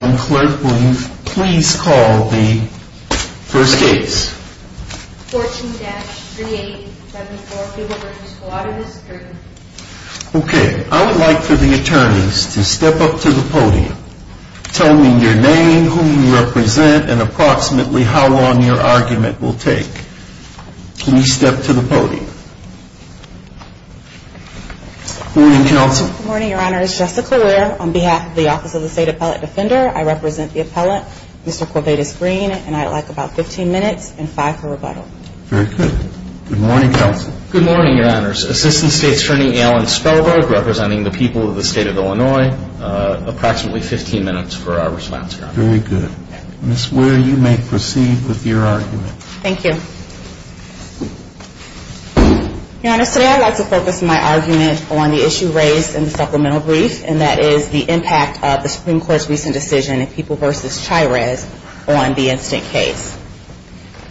I would like for the attorneys to step up to the podium. Tell me your name, whom you represent, and approximately how long your argument will take. Please step to the podium. Good morning, Counsel. Good morning, Your Honors. Jessica Weir, on behalf of the Office of the State Appellate Defender. I represent the appellant, Mr. Corvatus Green, and I would like about 15 minutes and 5 for rebuttal. Very good. Good morning, Counsel. Good morning, Your Honors. Assistant State's Attorney Alan Spellberg, representing the people of the State of Illinois. Approximately 15 minutes for our response, Your Honor. Very good. Ms. Weir, you may proceed with your argument. Thank you. Your Honors, today I would like to focus my argument on the issue raised in the supplemental brief, and that is the impact of the Supreme Court's recent decision in People v. Chires on the instant case.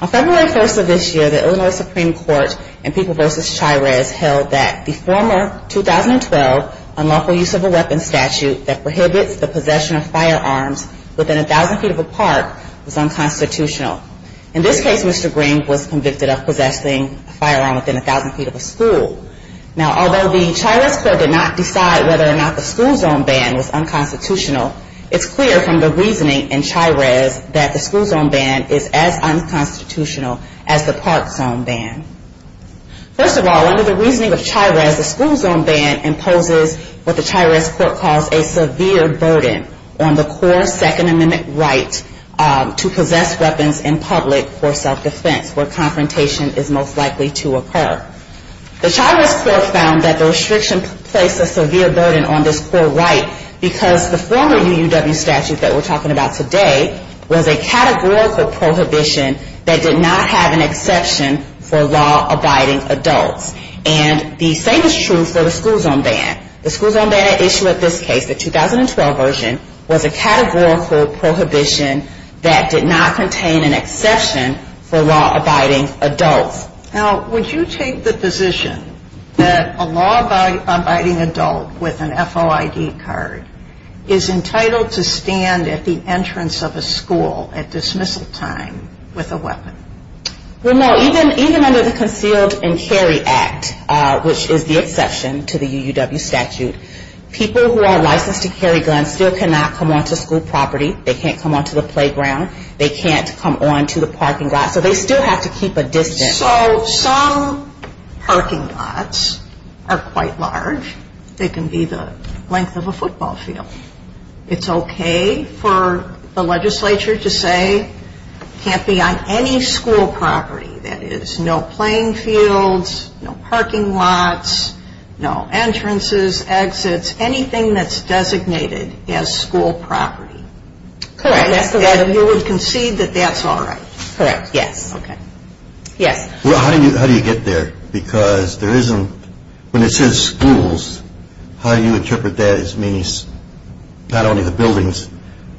On February 1st of this year, the Illinois Supreme Court in People v. Chires held that the former 2012 unlawful use of a weapon statute that prohibits the possession of firearms within a thousand feet of a park was unconstitutional. In this case, Mr. Green was convicted of possessing a firearm within a thousand feet of a school. Now, although the Chires court did not decide whether or not the school zone ban was unconstitutional, it's clear from the reasoning in Chires that the school zone ban is as unconstitutional as the park zone ban. First of all, under the reasoning of Chires, the school zone ban imposes what the Chires court calls a severe burden on the core Second Amendment right to possess weapons in public for self-defense, where confrontation is most likely to occur. The Chires court found that the restriction placed a severe burden on this core right because the former UUW statute that we're talking about today was a categorical prohibition that did not have an exception for law-abiding adults. And the same is true for the school zone ban. The school zone ban issue of this case, the 2012 version, was a categorical prohibition that did not contain an exception for law-abiding adults. Now, would you take the position that a law-abiding adult with an FOID card is entitled to stand at the entrance of a school at dismissal time with a weapon? Well, no. Even under the Concealed and Carry Act, which is the exception to the UUW statute, people who are licensed to carry guns still cannot come onto school property. They can't come onto the playground. They can't come onto the parking lot. So they still have to keep a distance. So some parking lots are quite large. They can be the length of a football field. It's okay for the legislature to say it can't be on any school property. That is, no playing fields, no parking lots, no entrances, exits, anything that's designated as school property. Correct. And you would concede that that's all right? Correct, yes. Okay. Yes. Well, how do you get there? Because there isn't, when it says schools, how do you interpret that as meaning not only the buildings,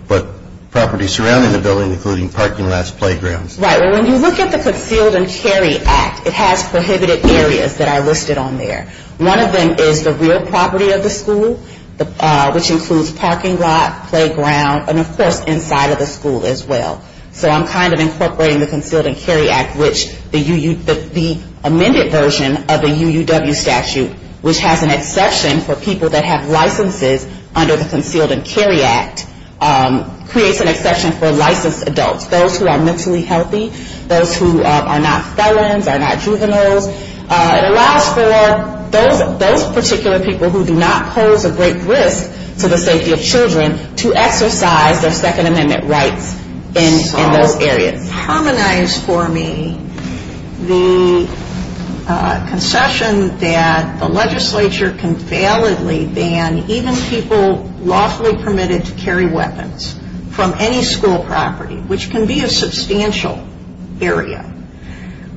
but property surrounding the building, including parking lots, playgrounds? Right. Well, when you look at the Concealed and Carry Act, it has prohibited areas that are listed on there. One of them is the real property of the school, which includes parking lot, playground, and, of course, inside of the school as well. So I'm kind of incorporating the Concealed and Carry Act, which the amended version of the UUW statute, which has an exception for people that have licenses under the Concealed and Carry Act, creates an exception for licensed adults, those who are mentally healthy, those who are not felons, are not juveniles. It allows for those particular people who do not pose a great risk to the safety of children to exercise their Second Amendment rights in those areas. Harmonize for me the concession that the legislature can validly ban even people lawfully permitted to carry weapons from any school property, which can be a substantial area,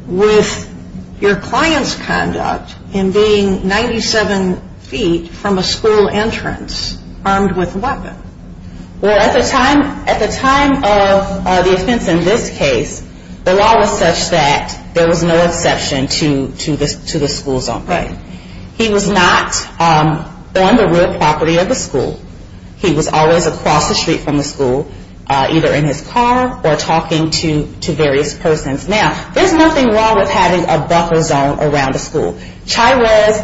with your client's conduct in being 97 feet from a school entrance armed with a weapon. Well, at the time of the offense in this case, the law was such that there was no exception to the school zone. Right. He was not on the real property of the school. He was always across the street from the school, either in his car or talking to various persons. Now, there's nothing wrong with having a buffer zone around the school. CHIRES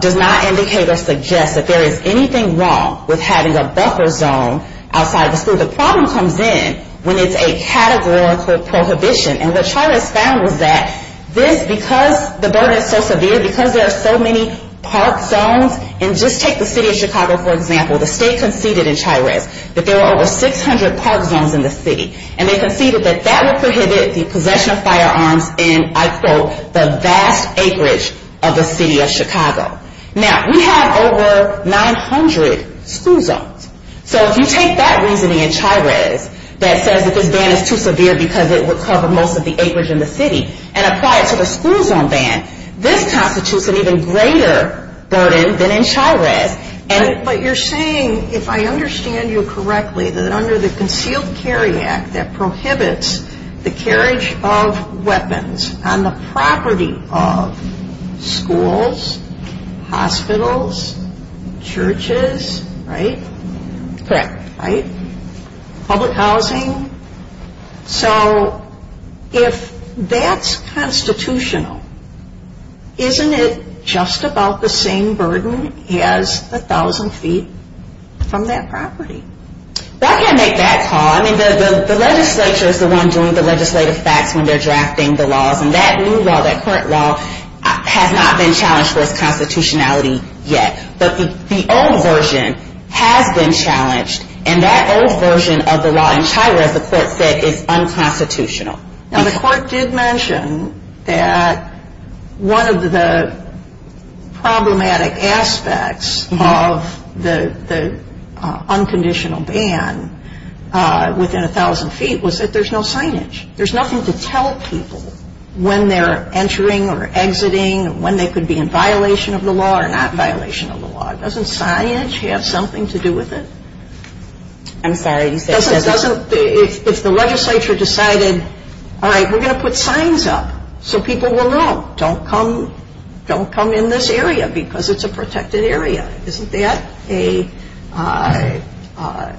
does not indicate or suggest that there is anything wrong with having a buffer zone outside the school. The problem comes in when it's a categorical prohibition. And what CHIRES found was that this, because the burden is so severe, because there are so many park zones. And just take the city of Chicago, for example. The state conceded in CHIRES that there were over 600 park zones in the city. And they conceded that that would prohibit the possession of firearms in, I quote, the vast acreage of the city of Chicago. Now, we have over 900 school zones. So if you take that reasoning in CHIRES that says that this ban is too severe because it would cover most of the acreage in the city and apply it to the school zone ban, this constitutes an even greater burden than in CHIRES. But you're saying, if I understand you correctly, that under the Concealed Carry Act, that prohibits the carriage of weapons on the property of schools, hospitals, churches, right? Correct. Right? Public housing. So if that's constitutional, isn't it just about the same burden as 1,000 feet from that property? Well, I can't make that call. I mean, the legislature is the one doing the legislative facts when they're drafting the laws. And that new law, that current law, has not been challenged for its constitutionality yet. But the old version has been challenged. And that old version of the law in CHIRES, the court said, is unconstitutional. Now, the court did mention that one of the problematic aspects of the unconditional ban within 1,000 feet was that there's no signage. There's nothing to tell people when they're entering or exiting, when they could be in violation of the law or not violation of the law. Doesn't signage have something to do with it? I'm sorry. If the legislature decided, all right, we're going to put signs up so people will know, don't come in this area because it's a protected area, isn't that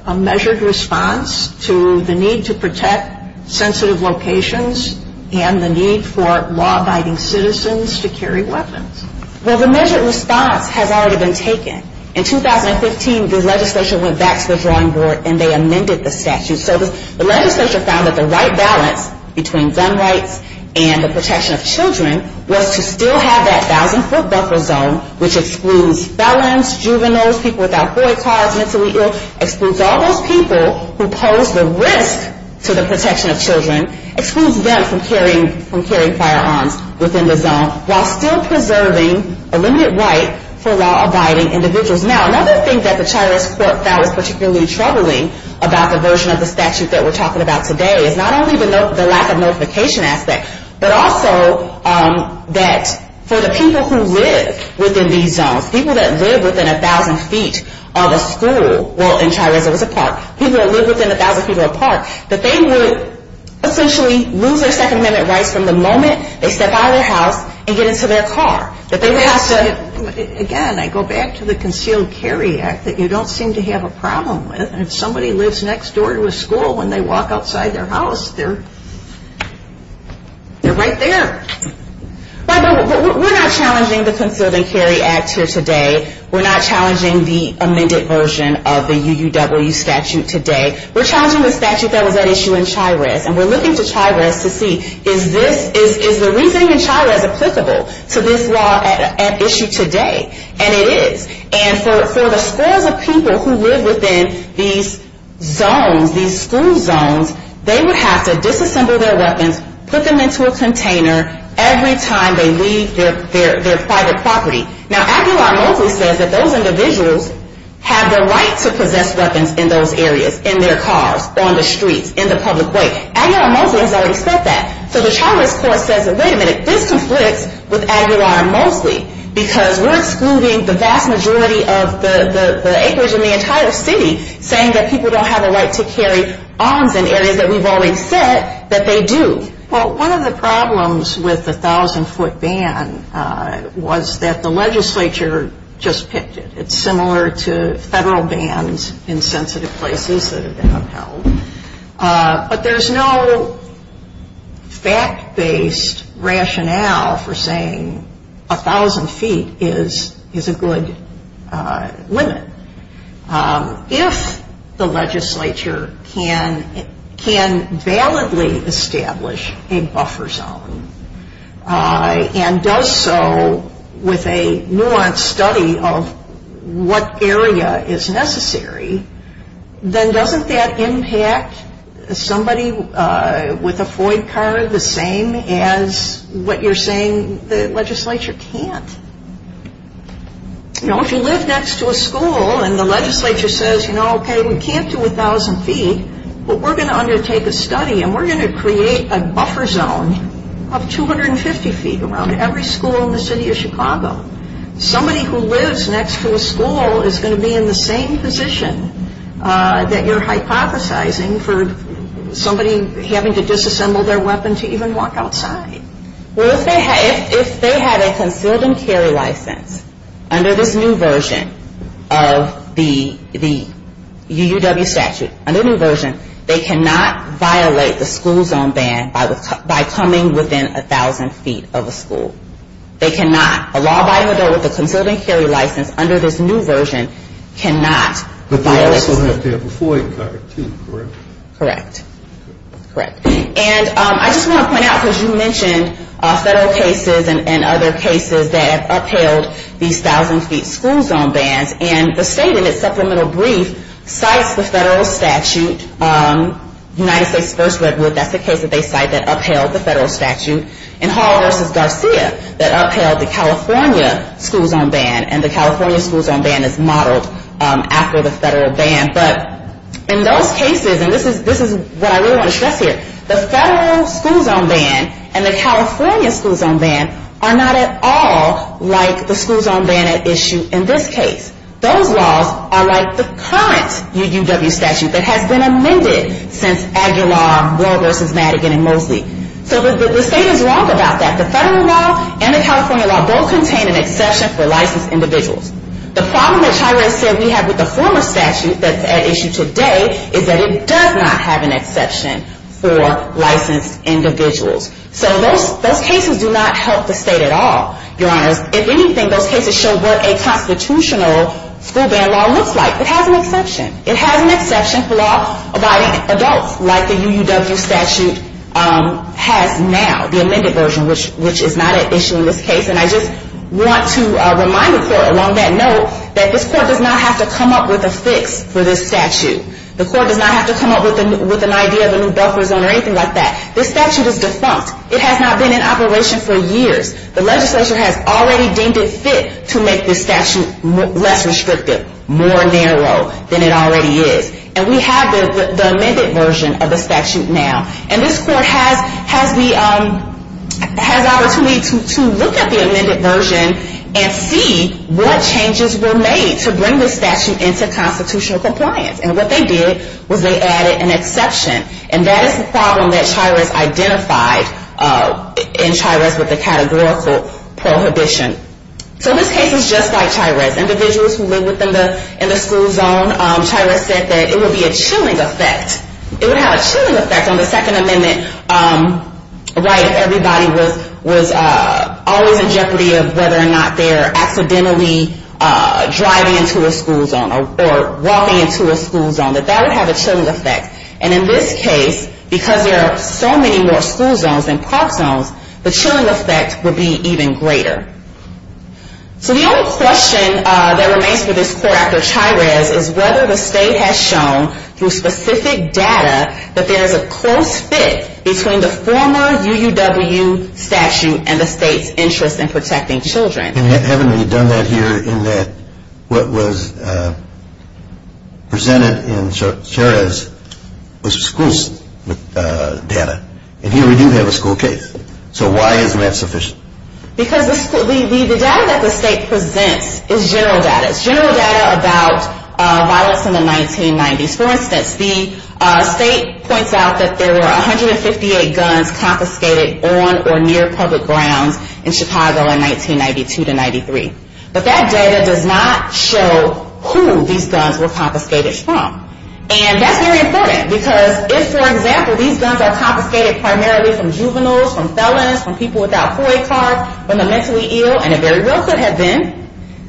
a measured response to the need to protect sensitive locations and the need for law-abiding citizens to carry weapons? Well, the measured response has already been taken. In 2015, the legislature went back to the drawing board and they amended the statute. So the legislature found that the right balance between gun rights and the protection of children was to still have that 1,000-foot buffer zone, which excludes felons, juveniles, people without boy cars, mentally ill, excludes all those people who pose the risk to the protection of children, excludes them from carrying firearms within the zone, while still preserving a limited right for law-abiding individuals. Now, another thing that the Chires Court found was particularly troubling about the version of the statute that we're talking about today is not only the lack of notification aspect, but also that for the people who live within these zones, people that live within 1,000 feet of a school, well, in Chires it was a park, people that live within 1,000 feet of a park, that they would essentially lose their Second Amendment rights from the moment they step out of their house and get into their car. Again, I go back to the Concealed Carry Act that you don't seem to have a problem with. If somebody lives next door to a school, when they walk outside their house, they're right there. Right, but we're not challenging the Concealed and Carry Act here today. We're not challenging the amended version of the UUW statute today. We're challenging the statute that was at issue in Chires, and we're looking to Chires to see, is the reasoning in Chires applicable to this law at issue today? And it is. And for the scores of people who live within these zones, these school zones, they would have to disassemble their weapons, put them into a container every time they leave their private property. Now, Aguilar-Moseley says that those individuals have the right to possess weapons in those areas, in their cars, on the streets, in the public way. Aguilar-Moseley has already said that. So the Chires court says, wait a minute, this conflicts with Aguilar-Moseley because we're excluding the vast majority of the acreage in the entire city, saying that people don't have a right to carry arms in areas that we've already said that they do. Well, one of the problems with the 1,000-foot ban was that the legislature just picked it. It's similar to federal bans in sensitive places that have been upheld. But there's no fact-based rationale for saying 1,000 feet is a good limit. If the legislature can validly establish a buffer zone and does so with a nuanced study of what area is necessary, then doesn't that impact somebody with a FOID card the same as what you're saying the legislature can't? If you live next to a school and the legislature says, okay, we can't do 1,000 feet, but we're going to undertake a study and we're going to create a buffer zone of 250 feet around every school in the city of Chicago. Somebody who lives next to a school is going to be in the same position that you're hypothesizing for somebody having to disassemble their weapon to even walk outside. Well, if they had a concealed and carry license under this new version of the UUW statute, under the new version, they cannot violate the school zone ban by coming within 1,000 feet of a school. They cannot. A law by the door with a concealed and carry license under this new version cannot violate the school zone. But they also have to have a FOID card, too, correct? Correct. And I just want to point out, because you mentioned federal cases and other cases that upheld these 1,000 feet school zone bans, and the state in its supplemental brief cites the federal statute, United States v. Redwood, that's the case that they cite that upheld the federal statute, and Hall v. Garcia that upheld the California school zone ban, and the California school zone ban is modeled after the federal ban. But in those cases, and this is what I really want to stress here, the federal school zone ban and the California school zone ban are not at all like the school zone ban at issue in this case. Those laws are like the current UUW statute that has been amended since Aguilar, Moore v. Madigan, and Mosley. So the state is wrong about that. The federal law and the California law both contain an exception for licensed individuals. The problem that Chiray said we have with the former statute that's at issue today is that it does not have an exception for licensed individuals. So those cases do not help the state at all, Your Honors. If anything, those cases show what a constitutional school ban law looks like. It has an exception. It has an exception for law abiding adults, like the UUW statute has now, the amended version, which is not at issue in this case. And I just want to remind the court along that note that this court does not have to come up with a fix for this statute. The court does not have to come up with an idea of a new buffer zone or anything like that. This statute is defunct. It has not been in operation for years. The legislature has already deemed it fit to make this statute less restrictive, more narrow than it already is. And we have the amended version of the statute now. And this court has the opportunity to look at the amended version and see what changes were made to bring this statute into constitutional compliance. And what they did was they added an exception. And that is the problem that Chiray identified in Chiray's categorical prohibition. So this case is just like Chiray's. Individuals who live within the school zone, Chiray said that it would be a chilling effect. It would have a chilling effect on the Second Amendment right if everybody was always in jeopardy of whether or not they're accidentally driving into a school zone or walking into a school zone. That that would have a chilling effect. And in this case, because there are so many more school zones than park zones, the chilling effect would be even greater. So the only question that remains for this court after Chiray's is whether the state has shown through specific data that there is a close fit between the former UUW statute and the state's interest in protecting children. And haven't we done that here in that what was presented in Chiray's was school data. And here we do have a school case. So why isn't that sufficient? Because the data that the state presents is general data. It's general data about violence in the 1990s. For instance, the state points out that there were 158 guns confiscated on or near public grounds in Chicago in 1992 to 1993. But that data does not show who these guns were confiscated from. And that's very important because if, for example, these guns are confiscated primarily from juveniles, from felons, from people without FOIA cards, from the mentally ill, and if there really could have been,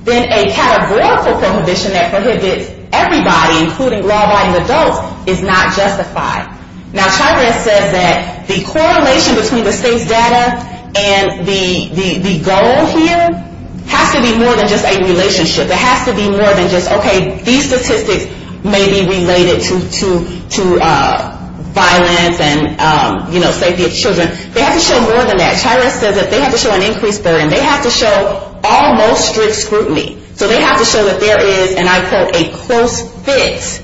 then a categorical prohibition that prohibits everybody, including law-abiding adults, is not justified. Now, Chiray's says that the correlation between the state's data and the goal here has to be more than just a relationship. It has to be more than just, okay, these statistics may be related to violence and, you know, safety of children. They have to show more than that. Chiray's says that they have to show an increased burden. They have to show almost strict scrutiny. So they have to show that there is, and I quote, a close fit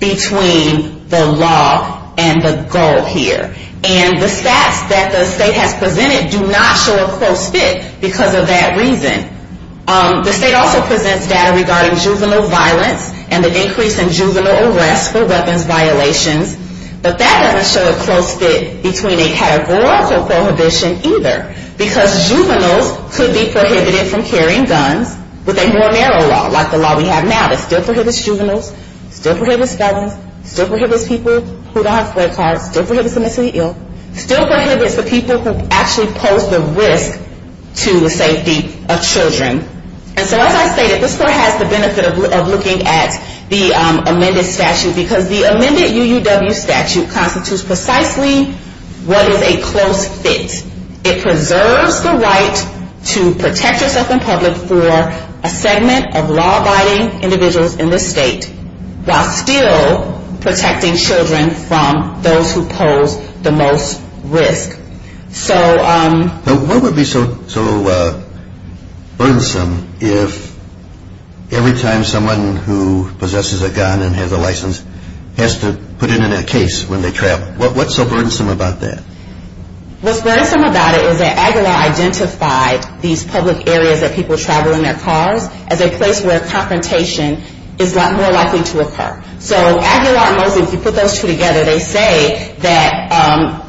between the law and the goal here. And the stats that the state has presented do not show a close fit because of that reason. The state also presents data regarding juvenile violence and the increase in juvenile arrests for weapons violations. But that doesn't show a close fit between a categorical prohibition, either, because juveniles could be prohibited from carrying guns with a more narrow law, like the law we have now. It still prohibits juveniles. It still prohibits felons. It still prohibits people who don't have FOIA cards. It still prohibits the mentally ill. It still prohibits the people who actually pose the risk to the safety of children. And so as I stated, this court has the benefit of looking at the amended statute because the amended UUW statute constitutes precisely what is a close fit. It preserves the right to protect yourself in public for a segment of law-abiding individuals in the state while still protecting children from those who pose the most risk. What would be so burdensome if every time someone who possesses a gun and has a license has to put it in a case when they travel? What's so burdensome about that? What's burdensome about it is that Aguilar identified these public areas that people travel in their cars as a place where confrontation is more likely to occur. So Aguilar and Mosley, if you put those two together, they say that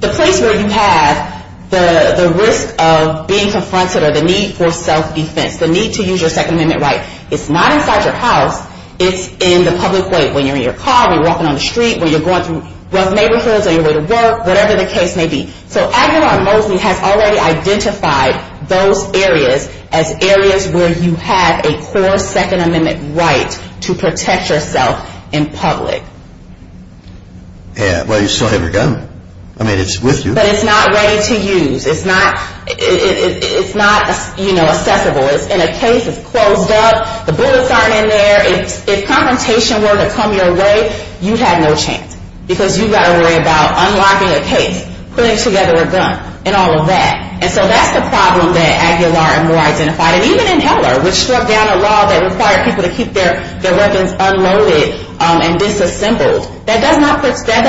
the place where you have the risk of being confronted or the need for self-defense, the need to use your Second Amendment right, it's not inside your house. It's in the public way, when you're in your car, when you're walking on the street, when you're going through rough neighborhoods, on your way to work, whatever the case may be. So Aguilar and Mosley have already identified those areas as areas where you have a core Second Amendment right to protect yourself in public. Yeah, but you still have your gun. I mean, it's with you. But it's not ready to use. It's not accessible. In a case, it's closed up. The bullets aren't in there. If confrontation were to come your way, you'd have no chance because you've got to worry about unlocking a case, putting together a gun, and all of that. And so that's the problem that Aguilar and Moore identified. And even in Heller, which struck down a law that required people to keep their weapons unloaded and disassembled, that does not protect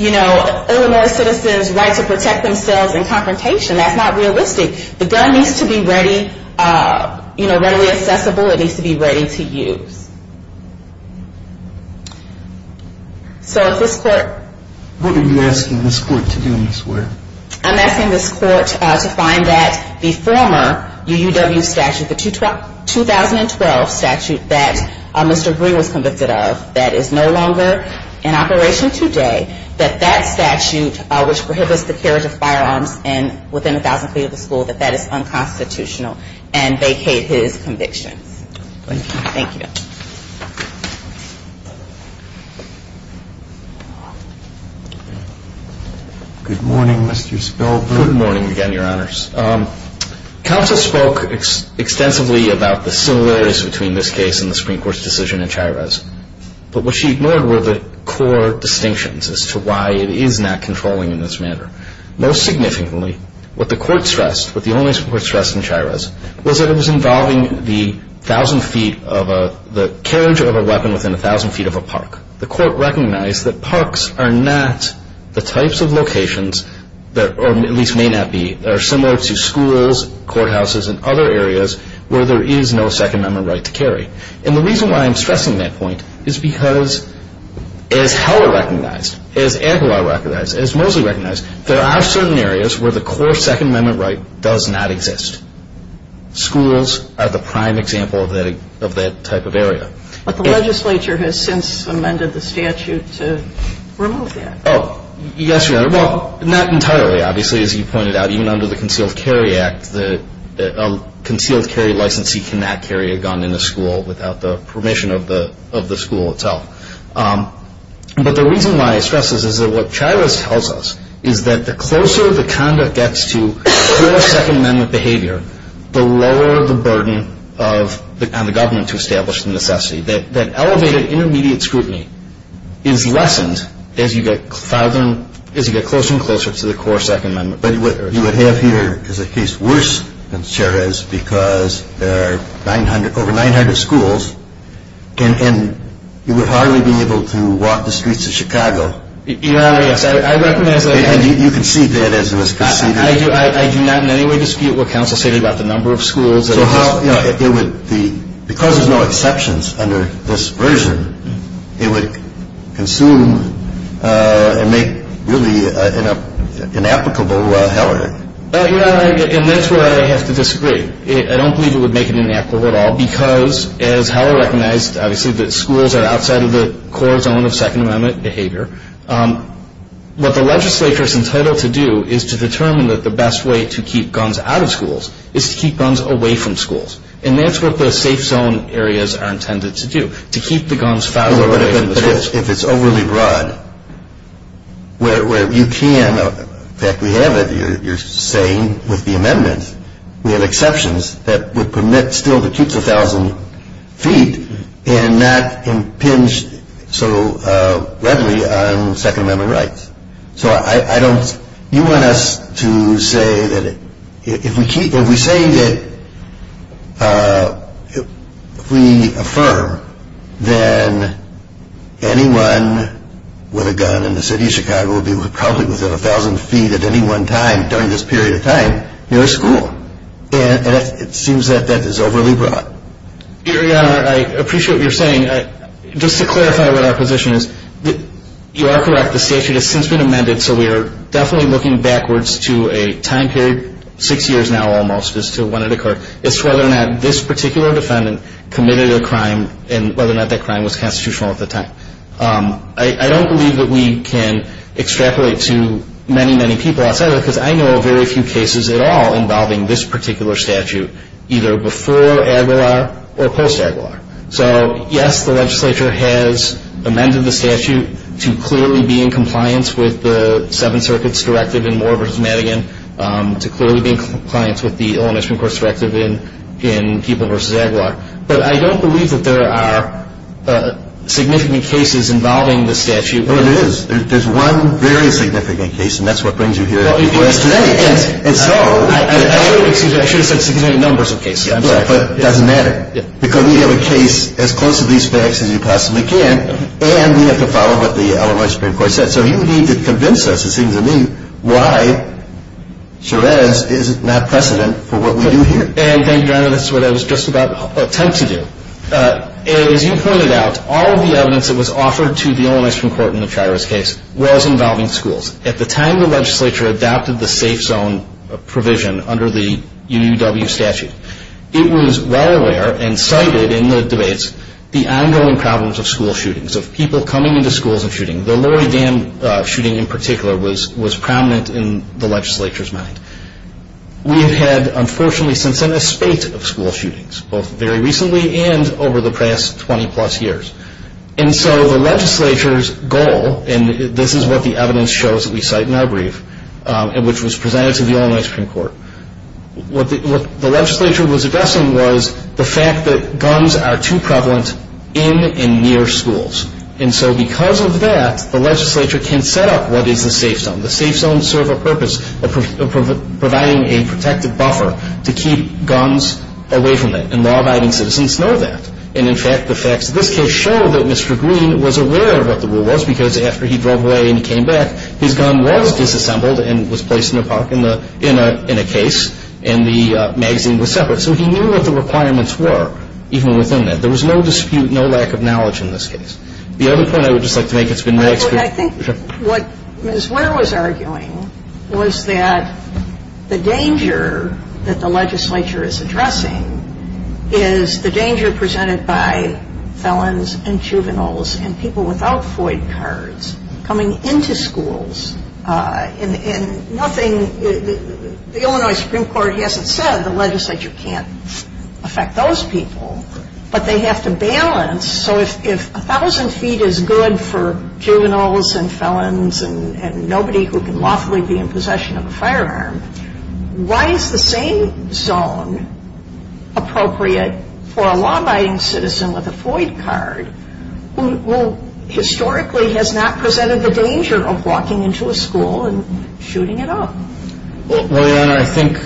Illinois citizens' right to protect themselves in confrontation. That's not realistic. The gun needs to be ready, you know, readily accessible. It needs to be ready to use. So if this court… What are you asking this court to do, Ms. Ware? I'm asking this court to find that the former UUW statute, the 2012 statute that Mr. Green was convicted of, that is no longer in operation today, that that statute, which prohibits the carriage of firearms within a thousand feet of the school, that that is unconstitutional, and vacate his convictions. Thank you. Good morning, Mr. Spilberg. Good morning again, Your Honors. Counsel spoke extensively about the similarities between this case and the Supreme Court's decision in Chirez, but what she ignored were the core distinctions as to why it is not controlling in this manner. Most significantly, what the court stressed, what the only court stressed in Chirez, was that it was involving the thousand feet of a school. It was involving the carriage of a weapon within a thousand feet of a park. The court recognized that parks are not the types of locations, or at least may not be, that are similar to schools, courthouses, and other areas where there is no Second Amendment right to carry. And the reason why I'm stressing that point is because, as Howell recognized, as Ampelow recognized, as Mosley recognized, there are certain areas where the core Second Amendment right does not exist. Schools are the prime example of that type of area. But the legislature has since amended the statute to remove that. Oh, yes, Your Honor. Well, not entirely, obviously. As you pointed out, even under the Concealed Carry Act, a concealed carry licensee cannot carry a gun in a school without the permission of the school itself. But the reason why I stress this is that what Chirez tells us is that the closer the conduct gets to core Second Amendment behavior, the lower the burden on the government to establish the necessity. That elevated intermediate scrutiny is lessened as you get closer and closer to the core Second Amendment. But what you would have here is a case worse than Chirez because there are over 900 schools, and you would hardly be able to walk the streets of Chicago. Your Honor, yes, I recognize that. And you concede that, as it was conceded. I do not in any way dispute what counsel stated about the number of schools. Because there's no exceptions under this version, it would consume and make really an inapplicable hell of it. Your Honor, and that's where I have to disagree. I don't believe it would make it inapplicable at all because, as Heller recognized, obviously, that schools are outside of the core zone of Second Amendment behavior. What the legislature is entitled to do is to determine that the best way to keep guns out of schools is to keep guns away from schools. And that's what the safe zone areas are intended to do, to keep the guns farther away from the schools. If it's overly broad, where you can, in fact we have it, you're saying with the amendments, we have exceptions that would permit still to keep to 1,000 feet and not impinge so readily on Second Amendment rights. So I don't, you want us to say that if we keep, if we say that, if we affirm, then anyone with a gun in the city of Chicago would be probably within 1,000 feet at any one time during this period of time near a school. And it seems that that is overly broad. Your Honor, I appreciate what you're saying. I mean, just to clarify what our position is, you are correct. The statute has since been amended, so we are definitely looking backwards to a time period, six years now almost as to when it occurred, as to whether or not this particular defendant committed a crime and whether or not that crime was constitutional at the time. I don't believe that we can extrapolate to many, many people outside of that because I know very few cases at all involving this particular statute, either before Aguilar or post-Aguilar. So, yes, the legislature has amended the statute to clearly be in compliance with the Seventh Circuit's directive in Moore v. Madigan, to clearly be in compliance with the Illinois Supreme Court's directive in Peeble v. Aguilar. But I don't believe that there are significant cases involving the statute. Well, there is. There's one very significant case, and that's what brings you here today. And so – Excuse me. I should have said significant numbers of cases. I'm sorry. But it doesn't matter because we have a case as close to these facts as you possibly can, and we have to follow what the Illinois Supreme Court said. So you need to convince us, it seems to me, why Sherez is not precedent for what we do here. And thank you, Your Honor. That's what I was just about to attempt to do. As you pointed out, all of the evidence that was offered to the Illinois Supreme Court in the Chiros case was involving schools. At the time the legislature adopted the safe zone provision under the UUW statute, it was well aware and cited in the debates the ongoing problems of school shootings, of people coming into schools and shooting. The Lorry Dam shooting in particular was prominent in the legislature's mind. We have had, unfortunately, since then, a spate of school shootings, both very recently and over the past 20-plus years. And so the legislature's goal, and this is what the evidence shows that we cite in our brief, which was presented to the Illinois Supreme Court, what the legislature was addressing was the fact that guns are too prevalent in and near schools. And so because of that, the legislature can set up what is the safe zone. The safe zones serve a purpose of providing a protective buffer to keep guns away from it, and law-abiding citizens know that. And in fact, the facts of this case show that Mr. Green was aware of what the rule was because after he drove away and came back, his gun was disassembled and was placed in a case, and the magazine was separate. So he knew what the requirements were, even within that. There was no dispute, no lack of knowledge in this case. The other point I would just like to make, it's been my experience. I think what Ms. Ware was arguing was that the danger that the legislature is addressing is the danger presented by felons and juveniles and people without FOID cards coming into schools. The Illinois Supreme Court hasn't said the legislature can't affect those people, but they have to balance. So if 1,000 feet is good for juveniles and felons and nobody who can lawfully be in possession of a firearm, why is the same zone appropriate for a law-abiding citizen with a FOID card who historically has not presented the danger of walking into a school and shooting it up? Well, Your Honor, I think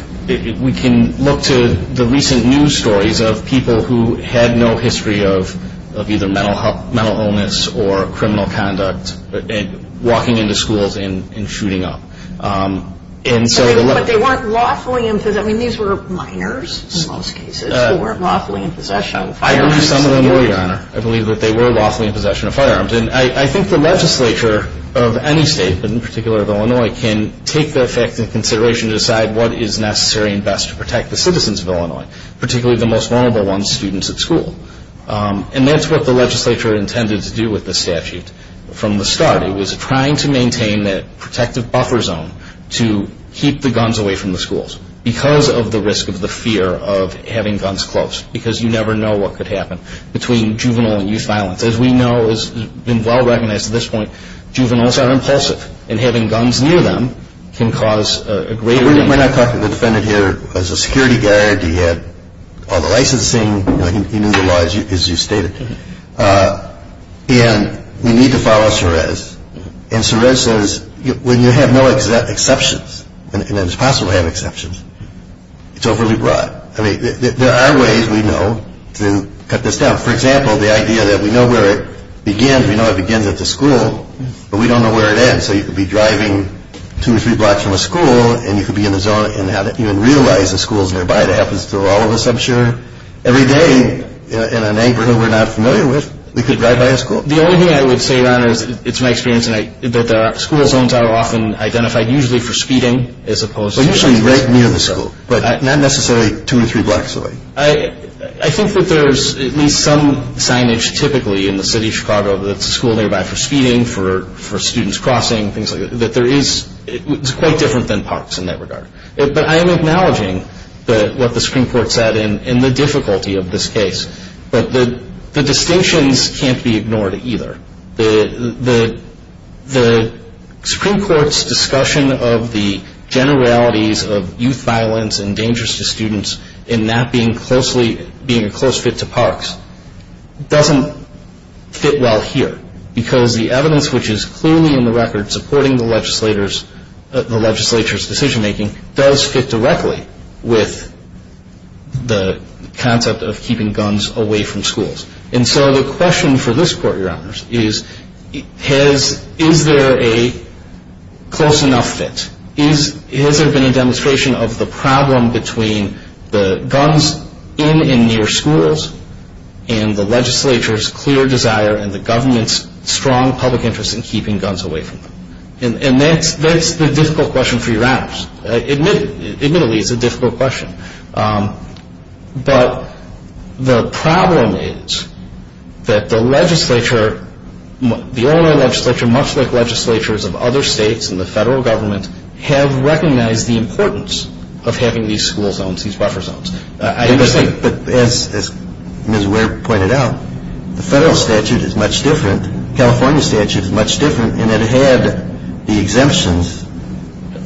we can look to the recent news stories of people who had no history of either mental illness or criminal conduct walking into schools and shooting up. But they weren't lawfully in possession. I mean, these were minors in most cases who weren't lawfully in possession of firearms. I believe some of them were, Your Honor. I believe that they were lawfully in possession of firearms. And I think the legislature of any state, but in particular of Illinois, can take that fact into consideration to decide what is necessary and best to protect the citizens of Illinois, particularly the most vulnerable ones, students at school. And that's what the legislature intended to do with the statute from the start. It was trying to maintain that protective buffer zone to keep the guns away from the schools because of the risk of the fear of having guns close, because you never know what could happen between juvenile and youth violence. As we know, it's been well recognized at this point, juveniles are impulsive, and having guns near them can cause a greater danger. We're not talking the defendant here as a security guard. He had all the licensing. He knew the laws as you stated. And we need to follow Suresh. And Suresh says when you have no exceptions, and it's possible to have exceptions, it's overly broad. I mean, there are ways we know to cut this down. For example, the idea that we know where it begins. We know it begins at the school, but we don't know where it ends. So you could be driving two or three blocks from a school, and you could be in the zone and not even realize the school's nearby. That happens to all of us, I'm sure. Every day in a neighborhood we're not familiar with, we could drive by a school. The only thing I would say, Your Honor, is it's my experience, that the school zones are often identified usually for speeding as opposed to... Well, usually right near the school, but not necessarily two or three blocks away. I think that there's at least some signage typically in the city of Chicago that's a school nearby for speeding, for students crossing, things like that, that there is quite different than parks in that regard. But I am acknowledging what the Supreme Court said and the difficulty of this case. But the distinctions can't be ignored either. The Supreme Court's discussion of the general realities of youth violence and dangers to students in that being a close fit to parks doesn't fit well here, because the evidence which is clearly in the record supporting the legislature's decision-making does fit directly with the concept of keeping guns away from schools. And so the question for this court, Your Honors, is, is there a close enough fit? Has there been a demonstration of the problem between the guns in and near schools and the legislature's clear desire and the government's strong public interest in keeping guns away from them? And that's the difficult question for Your Honors. Admittedly, it's a difficult question. But the problem is that the legislature, the Illinois legislature, much like legislatures of other states and the federal government, have recognized the importance of having these school zones, these buffer zones. But as Ms. Ware pointed out, the federal statute is much different. The California statute is much different. And it had the exemptions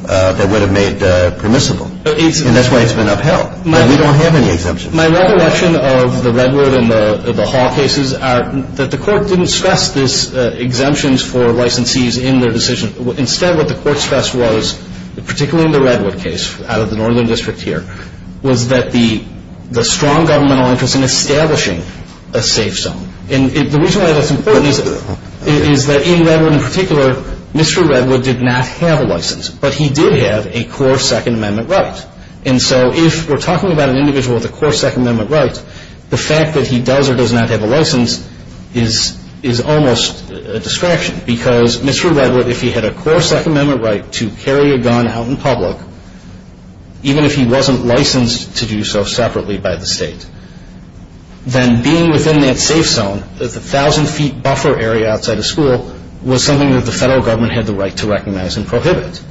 that would have made permissible. And that's why it's been upheld. We don't have any exemptions. My recollection of the Redwood and the Hall cases are that the court didn't stress these exemptions for licensees in their decision. Instead, what the court stressed was, particularly in the Redwood case, out of the northern district here, was that the strong governmental interest in establishing a safe zone. And the reason why that's important is that in Redwood in particular, Mr. Redwood did not have a license. But he did have a core Second Amendment right. And so if we're talking about an individual with a core Second Amendment right, the fact that he does or does not have a license is almost a distraction. Because Mr. Redwood, if he had a core Second Amendment right to carry a gun out in public, even if he wasn't licensed to do so separately by the state, then being within that safe zone, the 1,000-feet buffer area outside of school, was something that the federal government had the right to recognize and prohibit.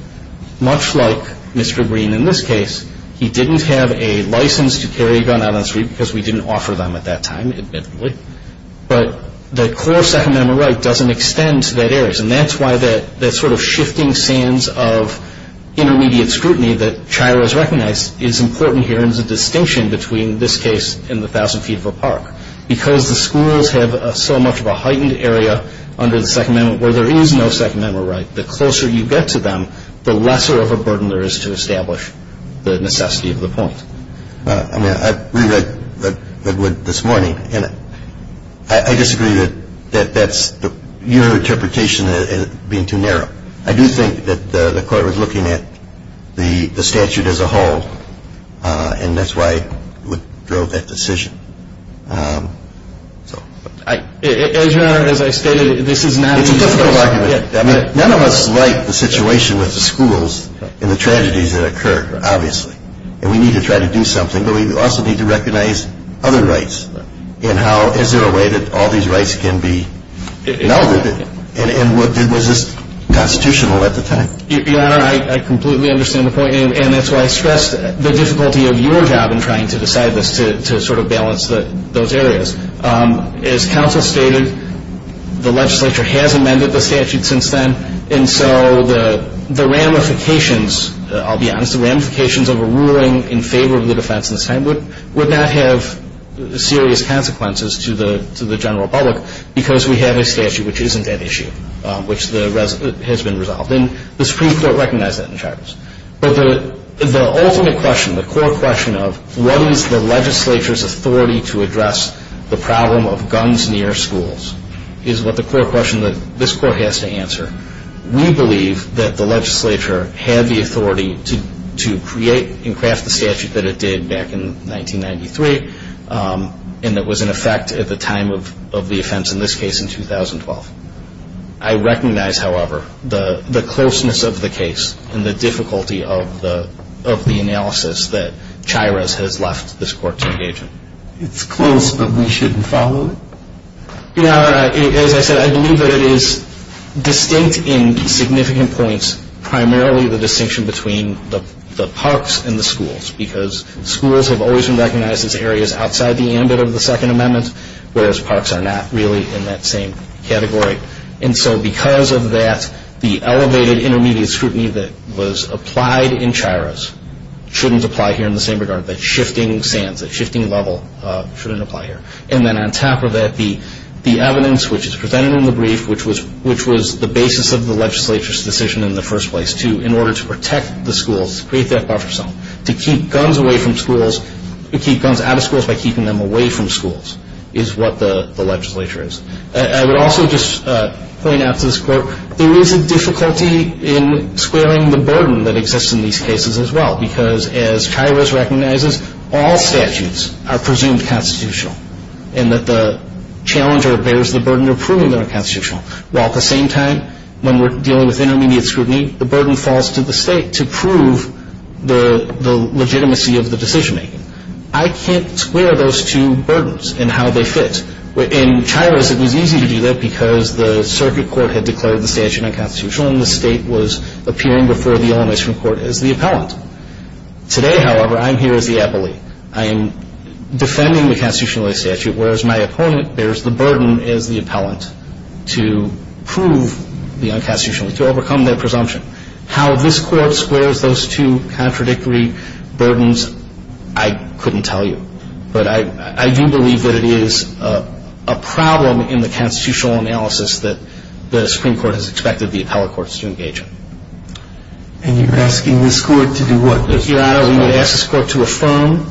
Much like Mr. Green in this case, he didn't have a license to carry a gun out on the street because we didn't offer them at that time, admittedly. But the core Second Amendment right doesn't extend to that area. And that's why that sort of shifting sands of intermediate scrutiny that CHIRA has recognized is important here and earns a distinction between this case and the 1,000-feet of a park. Because the schools have so much of a heightened area under the Second Amendment where there is no Second Amendment right, the closer you get to them, the lesser of a burden there is to establish the necessity of the point. I read Redwood this morning, and I disagree that your interpretation is being too narrow. I do think that the Court was looking at the statute as a whole and that's why it drove that decision. Your Honor, as I stated, this is not an easy case. It's a difficult argument. None of us like the situation with the schools and the tragedies that occurred, obviously. And we need to try to do something, but we also need to recognize other rights and how is there a way that all these rights can be melded. And was this constitutional at the time? Your Honor, I completely understand the point. And that's why I stressed the difficulty of your job in trying to decide this, to sort of balance those areas. As counsel stated, the legislature has amended the statute since then, and so the ramifications, I'll be honest, the ramifications of a ruling in favor of the defense in this time would not have serious consequences to the general public because we have a statute which isn't that issue, which has been resolved. And the Supreme Court recognized that in charge. But the ultimate question, the core question of what is the legislature's authority to address the problem of guns near schools is what the core question that this court has to answer. We believe that the legislature had the authority to create and craft the statute that it did back in 1993 and that was in effect at the time of the offense in this case in 2012. I recognize, however, the closeness of the case and the difficulty of the analysis that Chiras has left this court to engage in. It's close, but we shouldn't follow it? Your Honor, as I said, I believe that it is distinct in significant points, primarily the distinction between the parks and the schools because schools have always been recognized as areas outside the ambit of the Second Amendment, whereas parks are not really in that same category. And so because of that, the elevated intermediate scrutiny that was applied in Chiras shouldn't apply here in the same regard. The shifting sands, the shifting level shouldn't apply here. And then on top of that, the evidence which is presented in the brief, which was the basis of the legislature's decision in the first place in order to protect the schools, to create that buffer zone, to keep guns away from schools, to keep guns out of schools by keeping them away from schools, is what the legislature is. I would also just point out to this court, there is a difficulty in squaring the burden that exists in these cases as well because as Chiras recognizes, all statutes are presumed constitutional and that the challenger bears the burden of proving they're constitutional. While at the same time, when we're dealing with intermediate scrutiny, the burden falls to the state to prove the legitimacy of the decision-making. I can't square those two burdens and how they fit. In Chiras, it was easy to do that because the circuit court had declared the statute unconstitutional and the state was appearing before the Illinois Supreme Court as the appellant. Today, however, I'm here as the appellee. I am defending the constitutional statute whereas my opponent bears the burden as the appellant to prove the unconstitutional, to overcome their presumption. How this court squares those two contradictory burdens, I couldn't tell you. But I do believe that it is a problem in the constitutional analysis that the Supreme Court has expected the appellate courts to engage in. And you're asking this court to do what? Your Honor, we would ask this court to affirm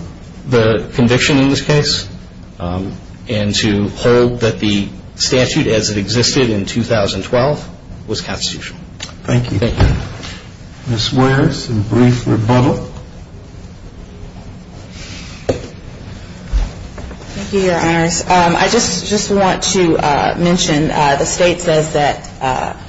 the conviction in this case and to hold that the statute as it existed in 2012 was constitutional. Thank you. Ms. Ware, some brief rebuttal. Thank you, Your Honors. I just want to mention the state says that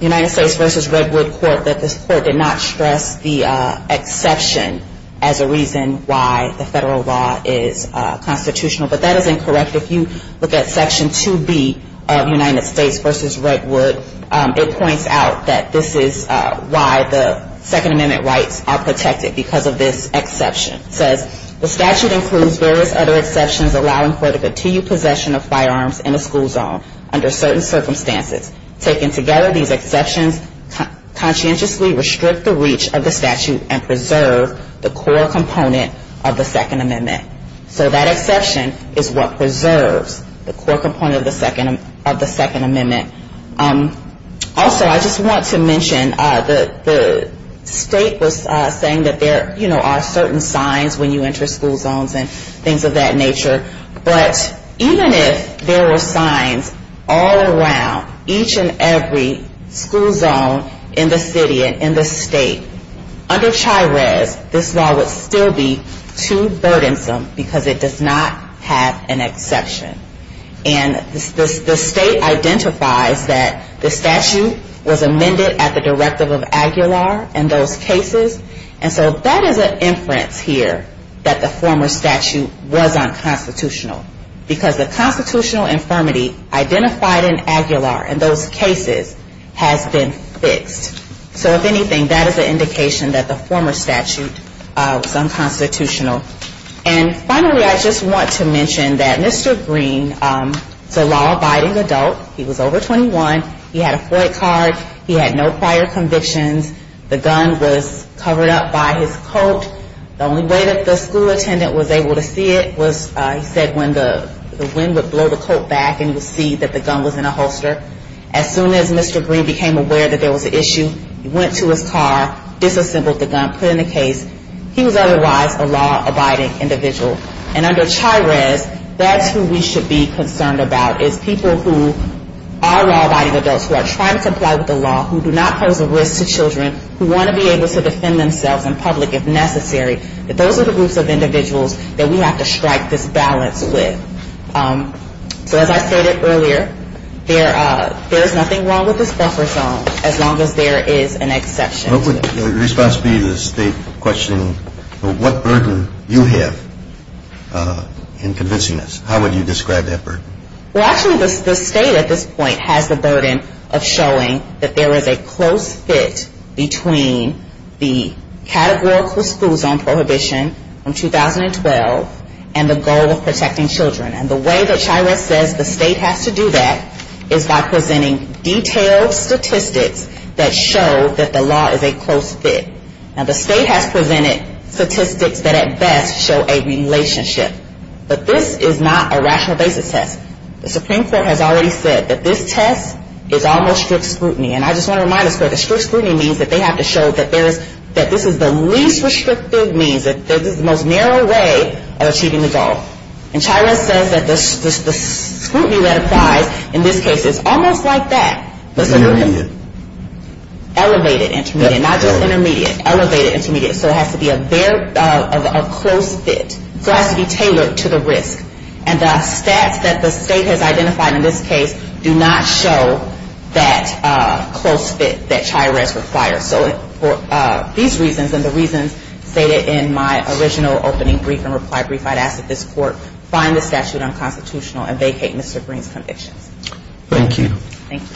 United States v. Redwood Court that this court did not stress the exception as a reason why the federal law is constitutional. But that is incorrect. If you look at Section 2B of United States v. Redwood, it points out that this is why the Second Amendment rights are protected, because of this exception. It says, The statute includes various other exceptions allowing for the continued possession of firearms in a school zone under certain circumstances. Taken together, these exceptions conscientiously restrict the reach of the statute and preserve the core component of the Second Amendment. So that exception is what preserves the core component of the Second Amendment. Also, I just want to mention the state was saying that there are certain signs when you enter school zones and things of that nature. But even if there were signs all around each and every school zone in the city and in the state, under CHIRES, this law would still be too burdensome because it does not have an exception. And the state identifies that the statute was amended at the directive of Aguilar in those cases. And so that is an inference here that the former statute was unconstitutional. Because the constitutional infirmity identified in Aguilar in those cases has been fixed. So if anything, that is an indication that the former statute was unconstitutional. And finally, I just want to mention that Mr. Green is a law-abiding adult. He was over 21. He had a FOIA card. He had no prior convictions. The gun was covered up by his coat. The only way that the school attendant was able to see it was, he said, when the wind would blow the coat back and he would see that the gun was in a holster. As soon as Mr. Green became aware that there was an issue, he went to his car, disassembled the gun, put it in the case. He was otherwise a law-abiding individual. And under CHIRES, that's who we should be concerned about, is people who are law-abiding adults, who are trying to comply with the law, who do not pose a risk to children, who want to be able to defend themselves in public if necessary, that those are the groups of individuals that we have to strike this balance with. So as I stated earlier, there is nothing wrong with this buffer zone as long as there is an exception to it. What would your response be to the state questioning what burden you have in convincing us? How would you describe that burden? Well, actually, the state at this point has the burden of showing that there is a close fit between the categorical school zone prohibition in 2012 and the goal of protecting children. And the way that CHIRES says the state has to do that is by presenting detailed statistics that show that the law is a close fit. Now, the state has presented statistics that at best show a relationship. But this is not a rational basis test. The Supreme Court has already said that this test is almost strict scrutiny. And I just want to remind us that strict scrutiny means that they have to show that this is the least restrictive means, that this is the most narrow way of achieving the goal. And CHIRES says that the scrutiny that applies in this case is almost like that. Intermediate. Elevated intermediate, not just intermediate. Elevated intermediate. So it has to be a close fit. So it has to be tailored to the risk. And the stats that the state has identified in this case do not show that close fit that CHIRES requires. So for these reasons and the reasons stated in my original opening brief and reply brief, I'd ask that this Court find the statute unconstitutional and vacate Mr. Green's convictions. Thank you. Thank you.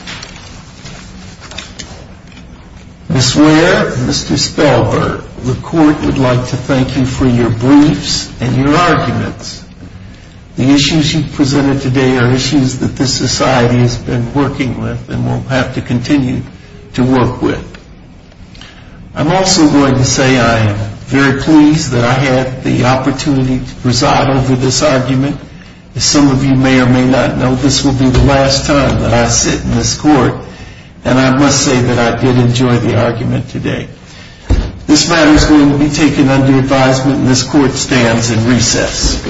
Ms. Ware and Mr. Spellberg, the Court would like to thank you for your briefs and your arguments. The issues you've presented today are issues that this society has been working with and will have to continue to work with. I'm also going to say I am very pleased that I had the opportunity to preside over this argument. As some of you may or may not know, this will be the last time that I sit in this Court, and I must say that I did enjoy the argument today. This matter is going to be taken under advisement, and this Court stands in recess.